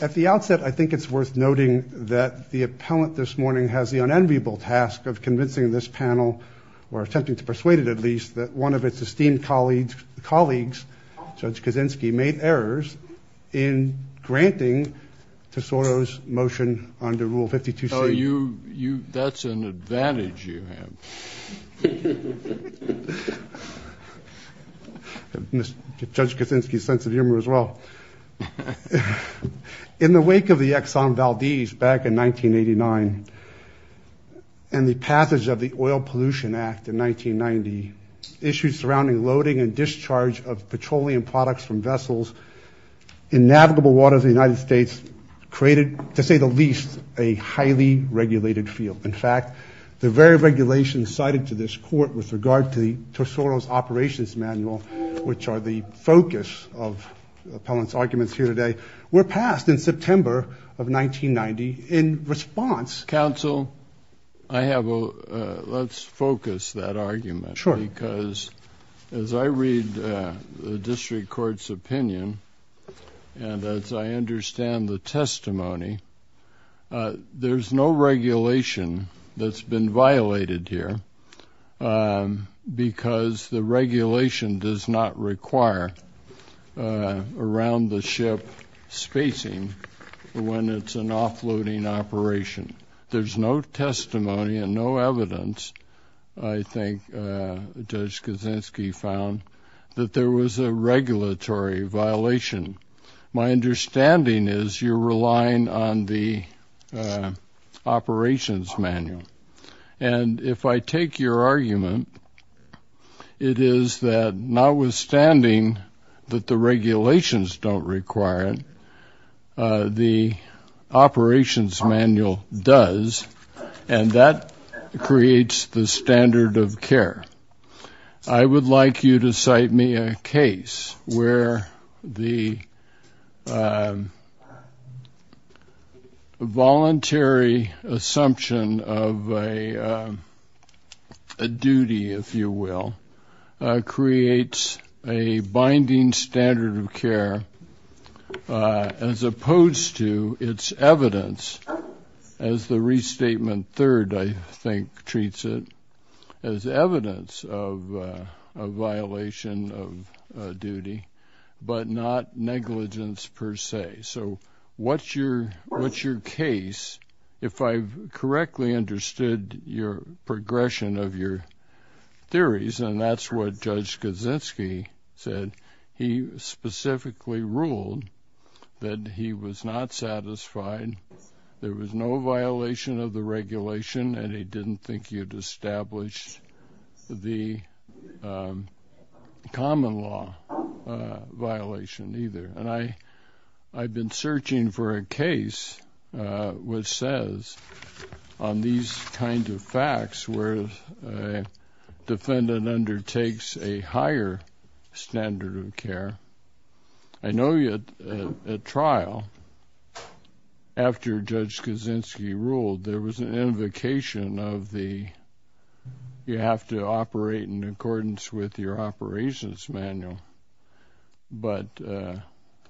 At the outset, I think it's worth noting that the appellant this morning has the unenviable task of convincing this panel, or attempting to persuade it at least, that one of its esteemed colleagues, Judge Kaczynski, made errors in granting Tesoro's motion under Rule 52C. Oh, you, you, that's an advantage you have. Judge Kaczynski's sense of humor as well. In the wake of the Exxon Valdez back in 1989, and the passage of the Oil Pollution Act in 1990, issues surrounding loading and discharge of petroleum products from vessels in navigable waters of the United States created, to say the least, a highly regulated field. In fact, the very regulations cited to this Court with regard to the Tesoro's Operations Manual, which are the focus of the appellant's arguments here today, were passed in September of 1990 in response. Counsel, I have a, let's focus that argument, because as I read the District Court's opinion, and as I understand the testimony, there's no regulation that's been violated here, because the regulation does not require around-the-ship spacing when it's an offloading operation. There's no testimony and no evidence, I think, Judge Kaczynski found, that there was a regulatory violation. My understanding is you're relying on the Operations Manual. And if I take your argument, it is that notwithstanding that the regulations don't require it, the Operations Manual does, and that creates the standard of care. I would like you to cite me a case where the voluntary assumption of a duty, if you will, creates a binding standard of care as opposed to its evidence, as the restatement third, I think, treats it as evidence of a violation of duty, but not negligence per se. So what's your case, if I've correctly understood your progression of your theories, and that's what Judge Kaczynski said. He specifically ruled that he was not satisfied, there was no violation of the regulation, and he didn't think you'd established the common law violation either. And I've been searching for a case which says, on these kinds of facts, where a defendant undertakes a higher standard of care. I know at trial, after Judge Kaczynski ruled, there was an invocation of the, you have to operate in accordance with your Operations Manual. But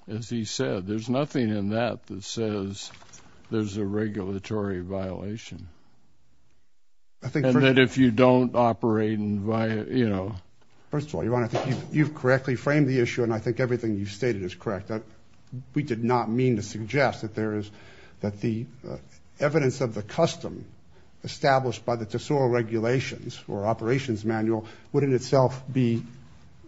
as he said, there's nothing in that that says there's a regulatory violation. I think that if you don't operate and, you know. First of all, Your Honor, I think you've correctly framed the issue, and I think everything you've stated is correct. That we did not mean to suggest that there is, that the evidence of the custom established by the Tesoro Regulations or Operations Manual would in itself be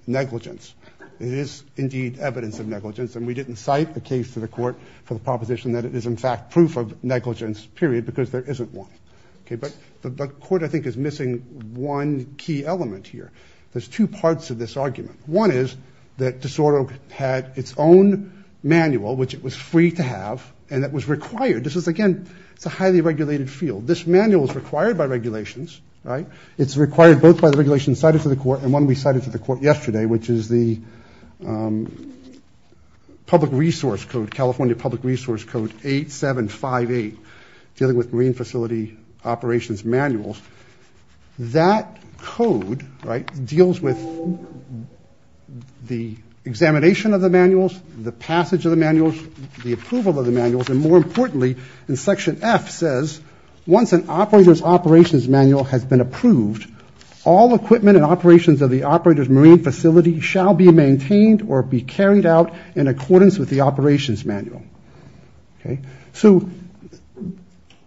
negligence. It is indeed evidence of negligence, and we didn't cite the case to the Court for the proposition that it is in fact proof of negligence, period, because there isn't one. Okay, but the Court, I think, is missing one key element here. There's two parts of this argument. One is that Tesoro had its own manual, which it was free to have, and that was required. This is, again, it's a highly regulated field. This manual is required by regulations, right? It's required both by the regulations cited to the Court and one we cited to the Court yesterday, which is the Public Resource Code, California Public Resource Code 8758, dealing with Marine Facility Operations Manuals. That code, right, deals with the examination of the manuals, the passage of the manuals, the approval of the manuals, and more importantly, in Section F says, once an operator's operations manual has been approved, all equipment and operations of the operator's marine facility shall be maintained or be carried out in accordance with the operations manual. Okay, so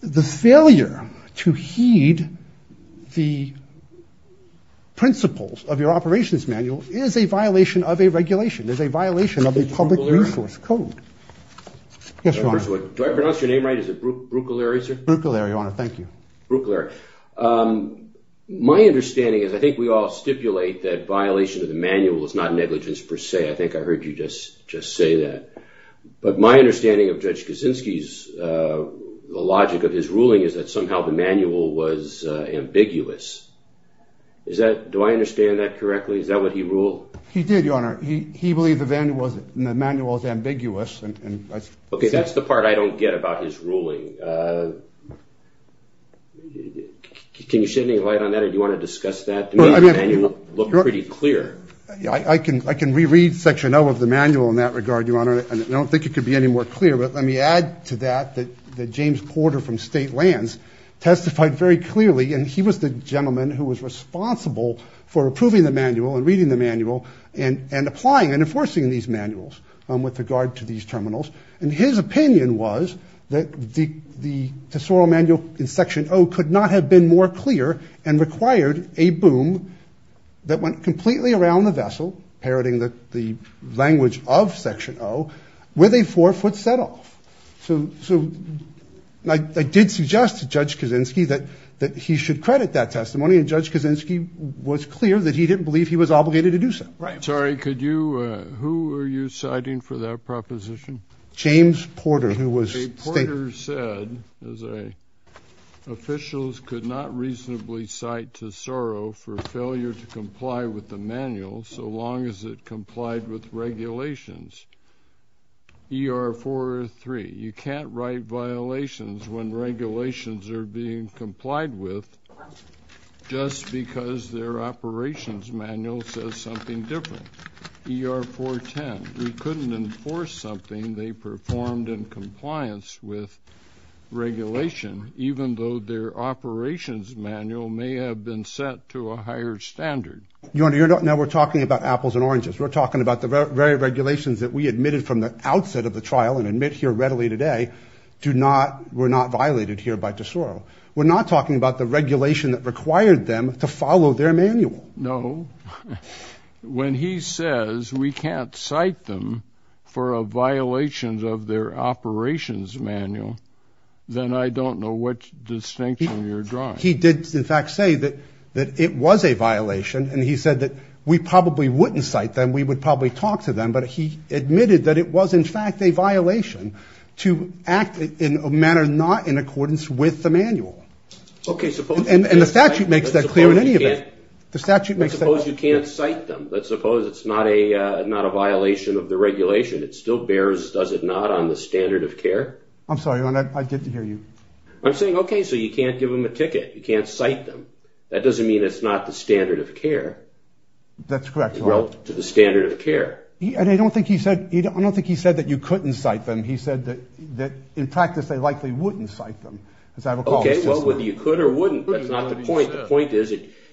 the failure to heed the principles of your operations manual is a violation of a regulation, is a violation of the Public Resource Code. Yes, Your Honor. Do I pronounce your name right? Is it Brukeleary, sir? Brukeleary, Your Honor. Thank you. Brukeleary. My understanding is, I think we all stipulate that violation of the manual is not negligence per se. I think I heard you just say that. But my understanding of Judge Kaczynski's logic of his ruling is that somehow the manual was ambiguous. Is that, do I understand that correctly? Is that what he ruled? He did, Your Honor. He believed the manual was ambiguous. Okay, that's the part I don't get about his ruling. Can you shed any light on that? Do you want to discuss that to make the manual look pretty clear? I can reread Section O of the manual in that regard, Your Honor. I don't think it could be any more clear. But let me add to that that James Porter from State Lands testified very clearly, and he was the gentleman who was responsible for approving the manual and reading the manual, and applying and enforcing these manuals with regard to these terminals. And his opinion was that the Tesoro Manual in Section O could not have been more clear and required a boom that went completely around the vessel, parroting the language of Section O, with a four-foot set-off. So I did suggest to Judge Kaczynski that he should credit that testimony, and Judge Kaczynski was clear that he didn't believe he was obligated to do so. Right. Sorry, could you, who are you citing for that proposition? James Porter, who was State. Porter said, as I, officials could not comply with the manual so long as it complied with regulations. ER-4-3, you can't write violations when regulations are being complied with just because their operations manual says something different. ER-4-10, we couldn't enforce something they performed in compliance with regulation, even though their operations manual may have been set to a higher standard. You're not, now we're talking about apples and oranges. We're talking about the very regulations that we admitted from the outset of the trial, and admit here readily today, do not, were not violated here by Tesoro. We're not talking about the regulation that required them to follow their manual. No. When he says we can't cite them for a violation of their operations manual, then I don't know what distinction you're drawing. He did, in fact, say that it was a violation, and he said that we probably wouldn't cite them, we would probably talk to them, but he admitted that it was, in fact, a violation to act in a manner not in accordance with the manual. Okay, suppose. And the statute makes that clear in any event. Suppose you can't cite them, but suppose it's not a violation of the regulation, it still bears, does it not, on the standard of care? I'm sorry, I get to hear you. I'm saying, okay, so you can't give them a ticket, you can't cite them. That doesn't mean it's not the standard of care. That's correct. To the standard of care. And I don't think he said, I don't think he said that you couldn't cite them, he said that in practice they likely wouldn't cite them. Okay, well, whether you could or wouldn't, that's not the point. The point is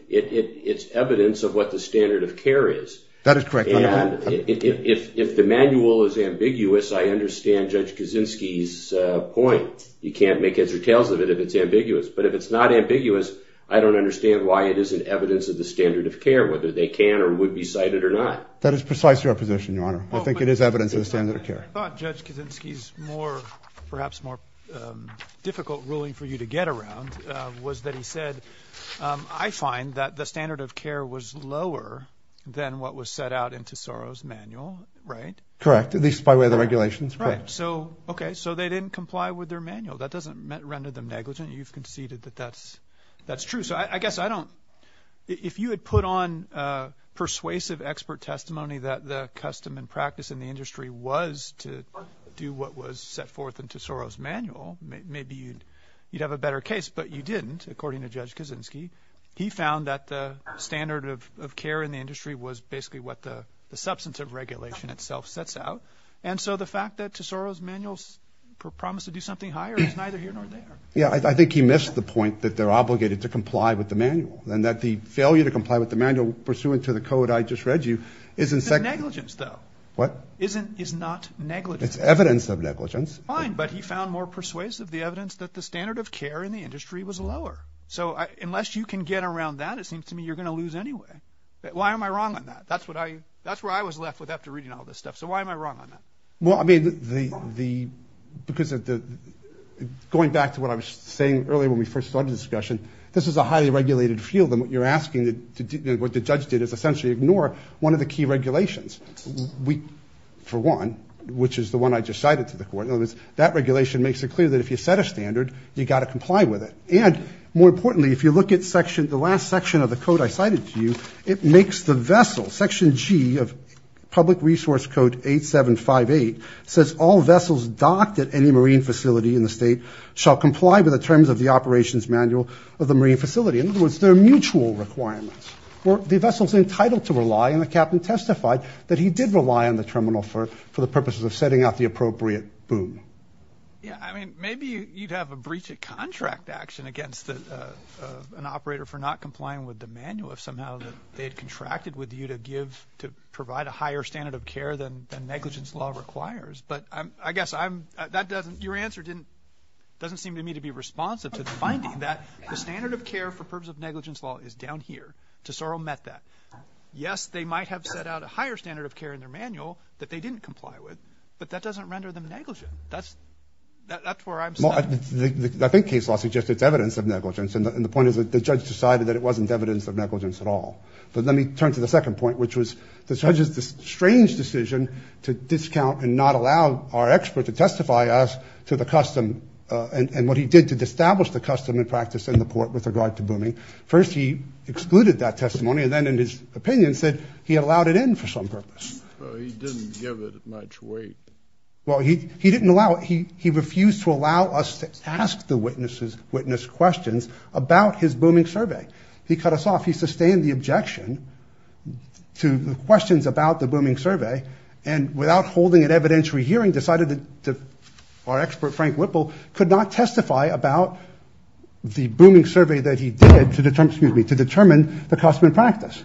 it's evidence of what the standard of care is. That is correct. If the manual is ambiguous, I understand Judge Kaczynski's point. You can't make heads or tails of it if it's ambiguous, but if it's not ambiguous, I don't understand why it isn't evidence of the standard of care, whether they can or would be cited or not. That is precisely our position, Your Honor. I think it is evidence of the standard of care. I find that the standard of care was lower than what was set out in Tesoro's manual, right? Correct. At least by way of the regulations. Right. Okay, so they didn't comply with their manual. That doesn't render them negligent. You've conceded that that's true. So I guess I don't, if you had put on persuasive expert testimony that the custom and practice in the industry, you'd have a better case. But you didn't, according to Judge Kaczynski. He found that the standard of care in the industry was basically what the substantive regulation itself sets out. And so the fact that Tesoro's manuals promise to do something higher is neither here nor there. Yeah, I think he missed the point that they're obligated to comply with the manual, and that the failure to comply with the manual pursuant to the code I just read you isn't... It's negligence though. What? It's not negligence. It's evidence of negligence. Fine, but he found more persuasive the evidence that the standard of care in the industry was lower. So unless you can get around that, it seems to me you're going to lose anyway. Why am I wrong on that? That's what I, that's where I was left with after reading all this stuff. So why am I wrong on that? Well, I mean the, because of the, going back to what I was saying earlier when we first started the discussion, this is a highly regulated field. And what you're asking, what the judge did is essentially ignore one of the key regulations. We, for one, which is the one I just cited to the court. In other words, that regulation makes it clear that if you set a standard, you got to comply with it. And more importantly, if you look at section, the last section of the code I cited to you, it makes the vessel, section G of public resource code 8758, says all vessels docked at any marine facility in the state shall comply with the terms of the operations manual of the marine facility. In other words, they're mutual requirements. The vessel's entitled to rely, and the captain testified that he did rely on the terminal for, for the purposes of setting up the appropriate boom. Yeah. I mean, maybe you'd have a breach of contract action against an operator for not complying with the manual of somehow that they had contracted with you to give, to provide a higher standard of care than, than negligence law requires. But I guess I'm, that doesn't, your answer didn't, doesn't seem to me to be responsive to the finding that the standard of care for purpose of negligence law is down here. Tesoro met that. Yes, they might have set out a higher standard of care in their manual that they didn't comply with, but that doesn't render them negligent. That's, that's where I'm stuck. Well, I think case law suggests it's evidence of negligence. And the point is that the judge decided that it wasn't evidence of negligence at all. But let me turn to the second point, which was the judge's strange decision to discount and not allow our expert to testify us to the custom and what he did to establish the custom and practice in the port with regard to booming. First, he excluded that testimony, and then in his opinion said he allowed it in for some purpose. He didn't give it much weight. Well, he, he didn't allow it. He, he refused to allow us to ask the witnesses, witness questions about his booming survey. He cut us off. He sustained the objection to the questions about the booming survey and without holding an evidentiary hearing, decided that our expert Frank Whipple could not testify about the booming survey that he did to determine, excuse me, to determine the custom and practice.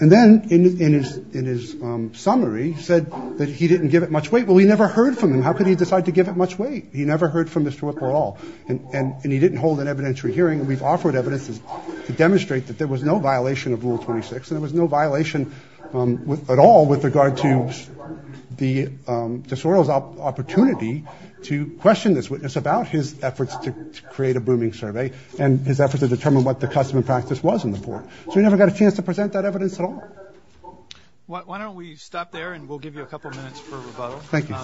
And then in his, in his summary said that he didn't give it much weight. Well, he never heard from him. How could he decide to give it much weight? He never heard from Mr. Whipple at all. And, and, and he didn't hold an evidentiary hearing. We've offered evidences to demonstrate that there was no violation of Rule 26. There was no violation at all with regard to the, to Sorrell's opportunity to question this witness about his efforts to create a booming survey and his efforts to determine what the custom and practice was in the court. So we never got a chance to present that evidence at all. Why don't we stop there and we'll give you a couple of minutes for rebuttal. Thank you.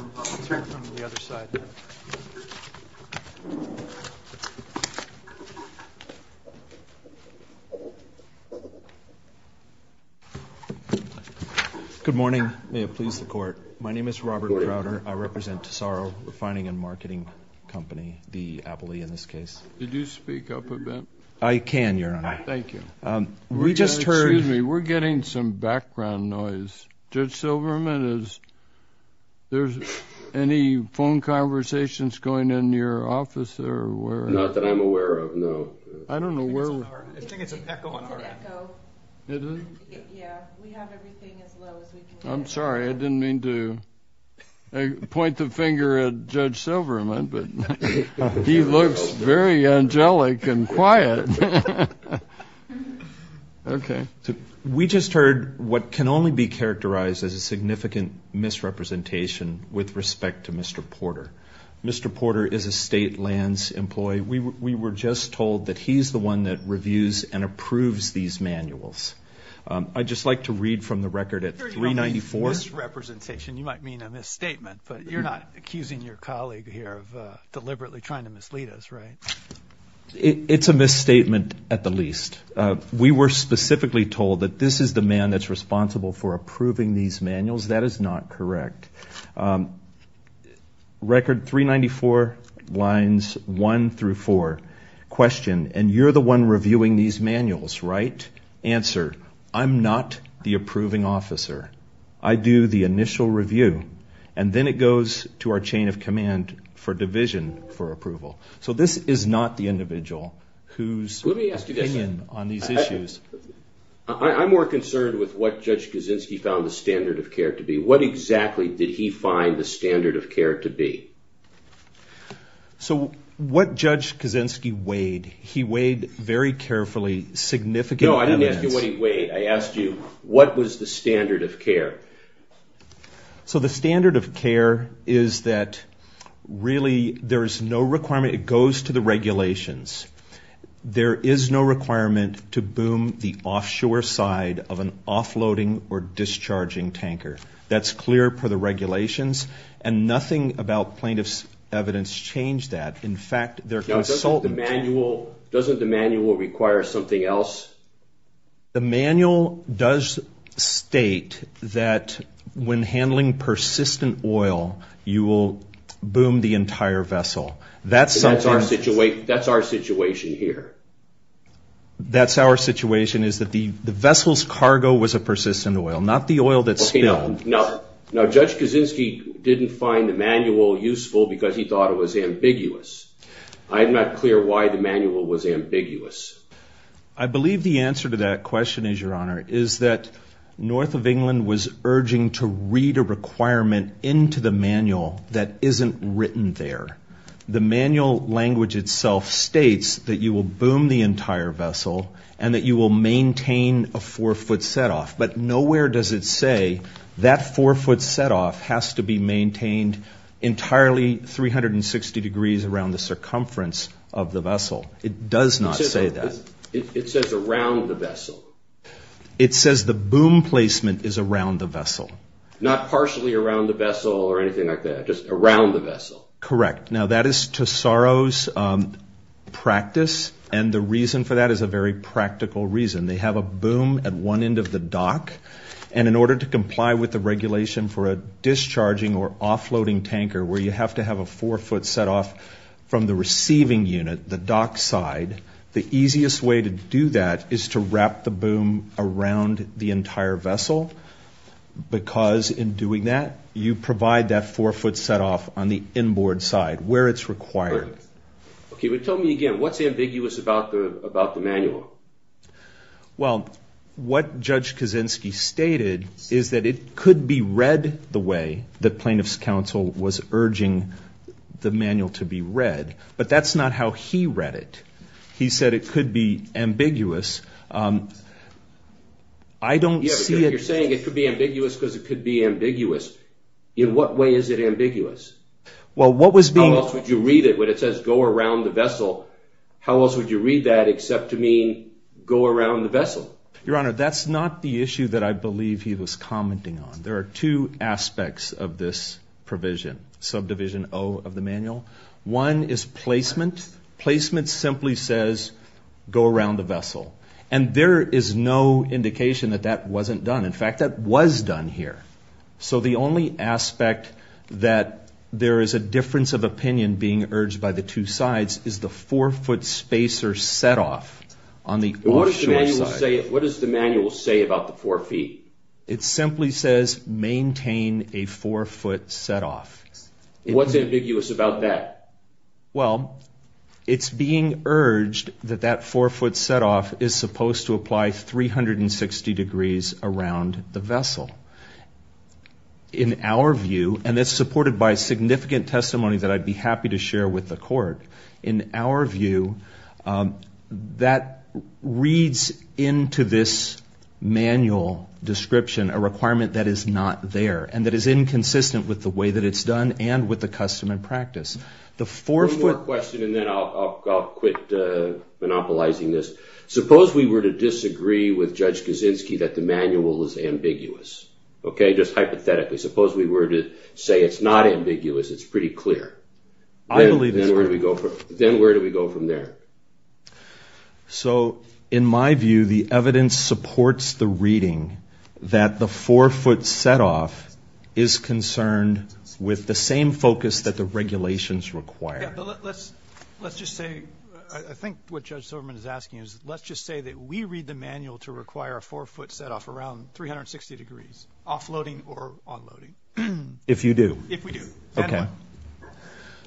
Good morning. May it please the court. My name is Robert Crowder. I represent Sorrell Refining and Marketing Company, the Appley in this case. Did you speak up a bit? I can, Your Honor. Thank you. We just heard... Excuse me, we're getting some background noise. Judge Silverman, is, there's any phone conversations going in your office or where? Not that I'm aware of, no. I don't know where... I think it's an echo on our end. It's an echo. It is? Yeah. We have everything as low as we can get. I'm sorry. I didn't mean to point the finger at Judge Silverman, but he looks very angelic and quiet. Okay. We just heard what can only be characterized as a significant misrepresentation with respect to Mr. Porter. Mr. Porter is a state lands employee. We were just told that he's the one that reviews and approves these manuals. I'd just like to read from the record at 394... You're not accusing your colleague here of deliberately trying to mislead us, right? It's a misstatement at the least. We were specifically told that this is the man that's responsible for approving these manuals. That is not correct. Record 394, lines one through four, question, and you're the one reviewing these manuals, right? Answer, I'm not the approving officer. I do the initial review, and then it goes to our chain of command for who's opinion on these issues. Let me ask you this. I'm more concerned with what Judge Kaczynski found the standard of care to be. What exactly did he find the standard of care to be? What Judge Kaczynski weighed, he weighed very carefully significant elements. No, I didn't ask you what he weighed. I asked you, what was the standard of care? The standard of care is that really there is no requirement. It goes to the regulations. There is no requirement to boom the offshore side of an offloading or discharging tanker. That's clear per the regulations, and nothing about plaintiff's evidence changed that. In fact, their consultant... Doesn't the manual require something else? The manual does state that when handling persistent oil, you will boom the entire vessel. That's our situation here. That's our situation is that the vessel's cargo was a persistent oil, not the oil that spilled. Now, Judge Kaczynski didn't find the manual useful because he thought it was ambiguous. I'm not clear why the manual was ambiguous. I believe the answer to that question is, Your Honor, is that North of the vessel, you will boom the entire vessel, and that you will maintain a four-foot set-off. But nowhere does it say that four-foot set-off has to be maintained entirely 360 degrees around the circumference of the vessel. It does not say that. It says around the vessel. It says the boom placement is around the vessel. Not partially around the vessel or anything like that, just around the vessel. Correct. Now, that is Tesoro's practice, and the reason for that is a very practical reason. They have a boom at one end of the dock, and in order to comply with the regulation for a discharging or offloading tanker where you have to have a four-foot set-off from the boom around the entire vessel, because in doing that, you provide that four-foot set-off on the inboard side where it's required. Okay, but tell me again, what's ambiguous about the manual? Well, what Judge Kaczynski stated is that it could be read the way the plaintiff's counsel was urging the manual to be read, but that's not how he read it. He said it could be ambiguous. Yeah, but you're saying it could be ambiguous because it could be ambiguous. In what way is it ambiguous? How else would you read it when it says go around the vessel? How else would you read that except to mean go around the vessel? Your Honor, that's not the issue that I believe he was commenting on. There are two aspects of this provision, subdivision O of the manual. One is placement. Placement simply says go around the vessel, and there is no indication that that wasn't done. In fact, that was done here. So the only aspect that there is a difference of opinion being urged by the two sides is the four-foot spacer set-off on the offshore side. What does the manual say about the four feet? It simply says maintain a four-foot set-off. What's ambiguous about that? Well, it's being urged that that four-foot set-off is supposed to apply 360 degrees around the vessel. In our view, and it's supported by significant testimony that I'd be happy to share with the court, in our view, that reads into this manual description a requirement that is not there and that is inconsistent with the way that it's done and with the custom and practice. One more question and then I'll quit monopolizing this. Suppose we were to disagree with Judge Kaczynski that the manual is ambiguous, okay, just hypothetically. Suppose we were to say it's not ambiguous, it's pretty clear. Then where do we go from there? So in my view, the evidence supports the reading that the four-foot set-off is concerned with the same focus that the regulations require. Let's just say, I think what Judge Silverman is asking is, let's just say that we read the manual to require a four-foot set-off around 360 degrees, offloading or onloading. If you do. If we do. Okay.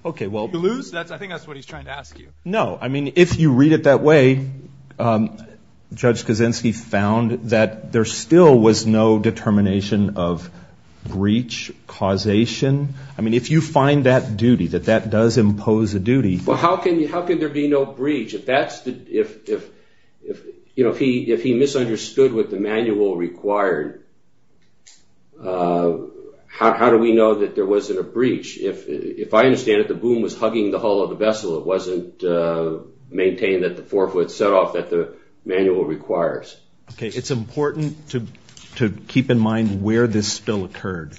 If you lose, I think that's what he's trying to ask you. No. I mean, if you read it that way, Judge Kaczynski found that there still was no determination of breach causation. I mean, if you find that duty, that that does impose a duty. Well, how can there be no breach? If he misunderstood what the manual required, how do we know that there wasn't a breach? If I understand it, the boom was hugging the hull of the vessel. It wasn't maintained that the four-foot set-off that the manual requires. Okay. It's important to keep in mind where this spill occurred.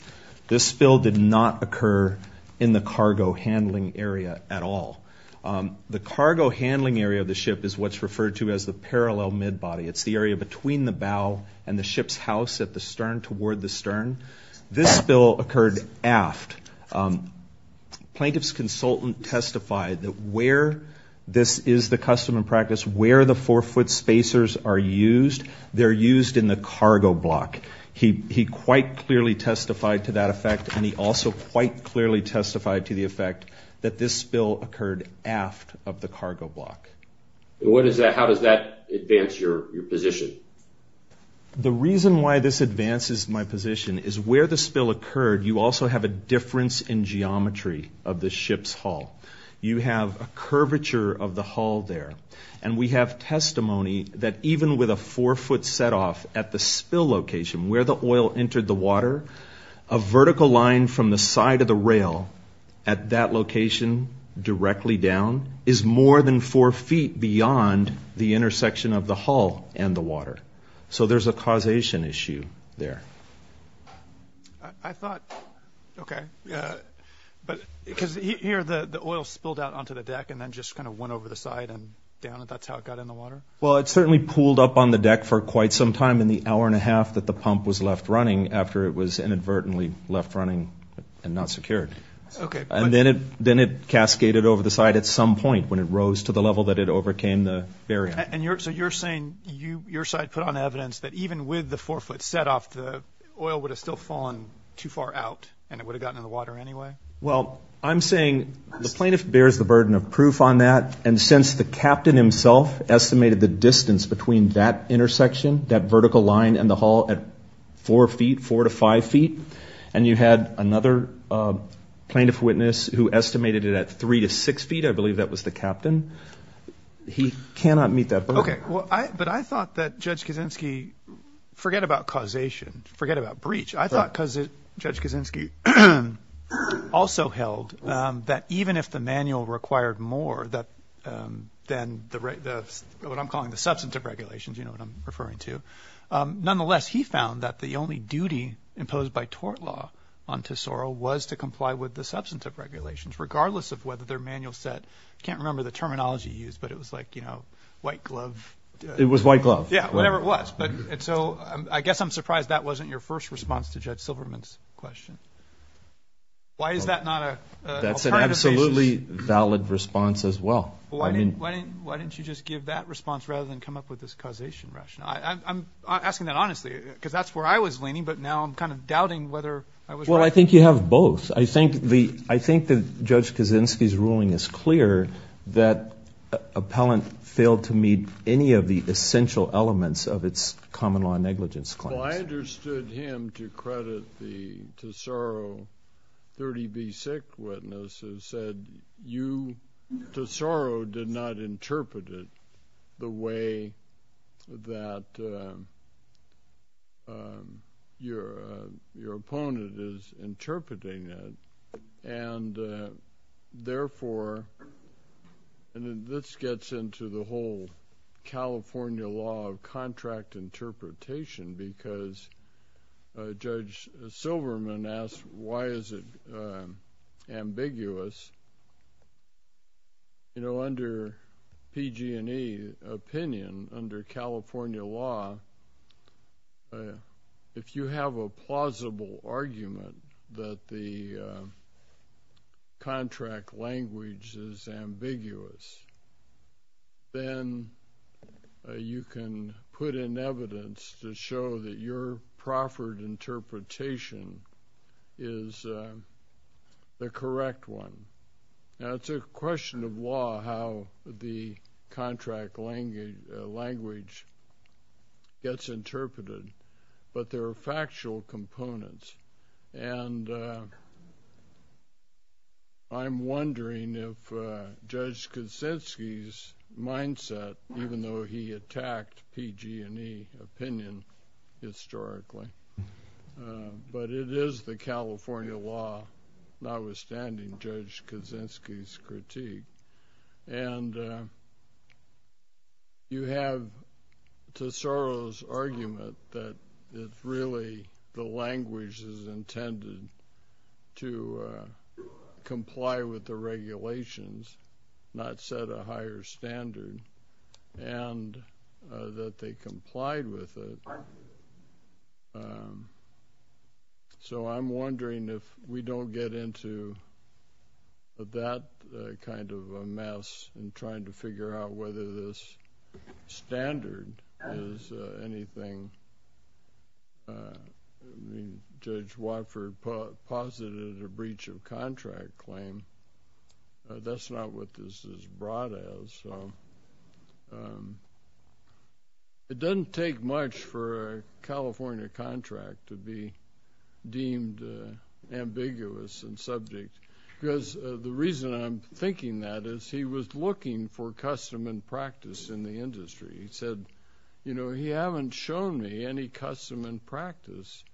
This spill did not occur in the cargo handling area at all. The cargo handling area of the ship is what's referred to as the parallel mid-body. It's the area between the bow and the ship's house at the stern, toward the stern. This spill occurred aft. Plaintiff's consultant testified that where this is the custom and practice, where the four-foot spacers are used, they're used in the cargo block. He quite clearly testified to that effect, and he also quite clearly testified to the effect that this spill occurred aft of the cargo block. How does that advance your position? The reason why this advances my position is where the spill occurred, you also have a difference in geometry of the ship's hull. You have a curvature of the hull there, and we have testimony that even with a four-foot set-off at the spill location, where the oil entered the water, a vertical line from the side of the rail at that location, directly down, is more than four feet beyond the intersection of the hull and the water. So there's a causation issue there. I thought, okay, because here the oil spilled out onto the deck and then just kind of went over the side and down, and that's how it got in the water? Well, it certainly pooled up on the deck for quite some time in the hour and a half that the pump was left running after it was inadvertently left running and not secured. And then it cascaded over the side at some point when it rose to the level that it overcame the barrier. So you're saying your side put on evidence that even with the four-foot set-off, the oil would have still fallen too far out and it would have gotten in the water anyway? Well, I'm saying the plaintiff bears the burden of proof on that, and since the captain himself estimated the distance between that intersection, that vertical line and the hull, at four feet, four to five feet, and you had another plaintiff witness who estimated it at three to six feet, I believe that was the captain. He cannot meet that burden. Okay. But I thought that Judge Kaczynski, forget about causation, forget about breach. I thought Judge Kaczynski also held that even if the manual required more than what I'm calling the substantive regulations, you know what I'm referring to, nonetheless, he found that the only duty imposed by tort law on Tesoro was to comply with the substantive regulations regardless of whether their manual said, I can't remember the terminology used, but it was like, you know, white glove. It was white glove. Yeah, whatever it was. But, and so I guess I'm surprised that wasn't your first response to Judge Silverman's question. Why is that not an alternative basis? That's an absolutely valid response as well. Well, why didn't you just give that response rather than come up with this causation rationale? I'm asking that honestly, because that's where I was leaning, but now I'm kind of doubting whether I was right. Well, I think you have both. I think that Judge Kaczynski's ruling is clear that appellant failed to meet any of the essential elements of its common law negligence claims. Well, I understood him to credit the Tesoro 30b6 witness who said you, Tesoro, did not And therefore, and then this gets into the whole California law of contract interpretation because Judge Silverman asked, why is it ambiguous, you know, under PG&E opinion, under California law, if you have a plausible argument that the contract language is ambiguous, then you can put in evidence to show that your proffered interpretation is the correct one. Now, it's a question of law how the contract language gets interpreted, but there are factual components, and I'm wondering if Judge Kaczynski's mindset, even though he attacked PG&E opinion historically, but it is the California law, notwithstanding Judge Kaczynski's critique. And you have Tesoro's argument that it's really the language is intended to comply with the law. So I'm wondering if we don't get into that kind of a mess in trying to figure out whether this standard is anything. Judge Watford posited a breach of contract claim. That's not what this is brought as. It doesn't take much for a California contract to be deemed ambiguous and subject, because the reason I'm thinking that is he was looking for custom and practice in the industry. He said, you know, he haven't shown me any custom and practice.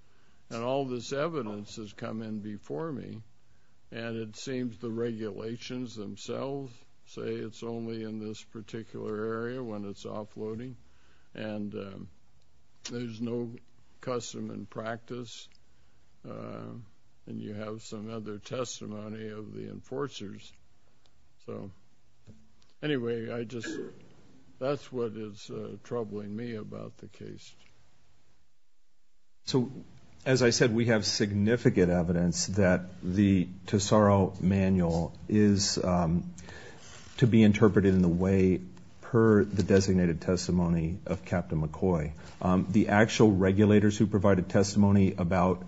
And all this evidence has come in before me, and it seems the regulations themselves say it's only in this particular area when it's offloading, and there's no custom and practice. And you have some other testimony of the enforcers. So anyway, I just, that's what is troubling me about the case. So as I said, we have significant evidence that the Tesoro manual is to be interpreted in the way per the designated testimony of Captain McCoy. The actual regulators who provided testimony about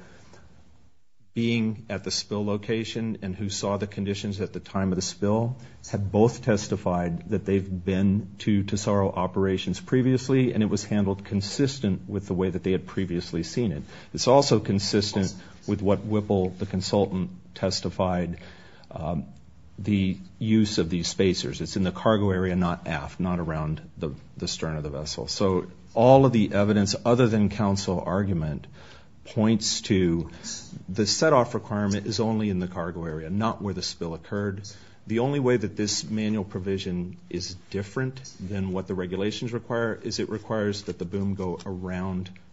being at the spill location and who saw the conditions at the time of the spill had both testified that they've been to Tesoro operations previously, and it was handled consistent with the way that they had previously seen it. It's also consistent with what Whipple, the consultant, testified, the use of these spacers. It's in the cargo area, not aft, not around the stern of the vessel. So all of the evidence other than counsel argument points to the setoff requirement is only in the cargo area, not where the spill occurred. The only way that this manual provision is different than what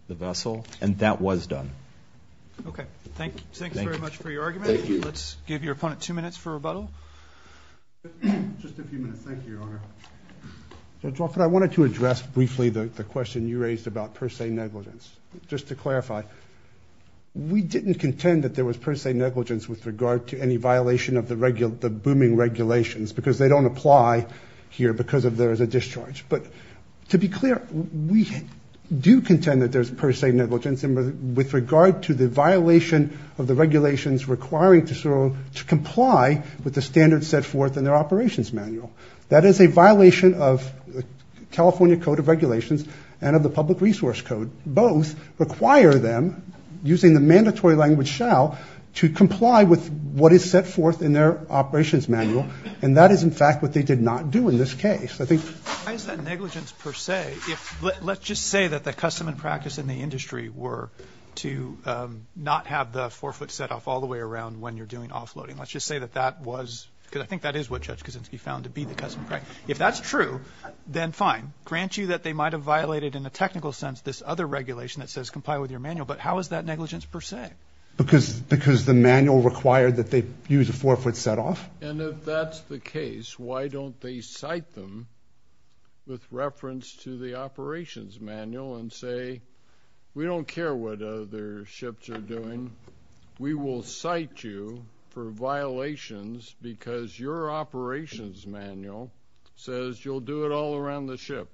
the vessel and that was done. Okay. Thank you. Thank you very much for your argument. Let's give your opponent two minutes for rebuttal. Just a few minutes. Thank you, Your Honor. Judge Wofford, I wanted to address briefly the question you raised about per se negligence. Just to clarify, we didn't contend that there was per se negligence with regard to any violation of the regular, the booming regulations because they don't apply here because of there is a discharge. But to be clear, we do contend that there's per se negligence with regard to the violation of the regulations requiring to comply with the standards set forth in their operations manual. That is a violation of the California Code of Regulations and of the Public Resource Code. Both require them, using the mandatory language shall, to comply with what is set forth in their operations manual. And that is in fact what they did not do in this case. I think negligence per se, let's just say that the custom practice in the industry were to not have the forefoot set off all the way around when you're doing offloading. Let's just say that that was, because I think that is what Judge Kaczynski found to be the custom practice. If that's true, then fine. Grant you that they might have violated in a technical sense this other regulation that says comply with your manual. But how is that negligence per se? Because the manual required that they use a forefoot set off. And if that's the case, why don't they cite them with reference to the operations manual and say, we don't care what other ships are doing. We will cite you for violations because your operations manual says you'll do it all around the ship.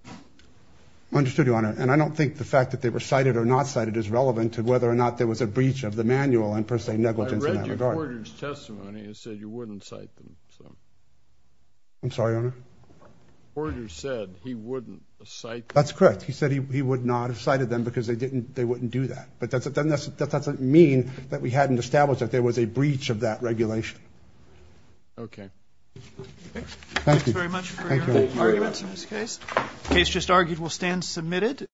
Understood, Your Honor. And I don't think the fact that they were cited or not cited is relevant to whether or not there was a breach of the manual and per se Order said he wouldn't cite. That's correct. He said he would not have cited them because they didn't, they wouldn't do that. But that doesn't mean that we hadn't established that there was a breach of that regulation. Okay. Thank you very much for your arguments in this case. Case just argued will stand submitted.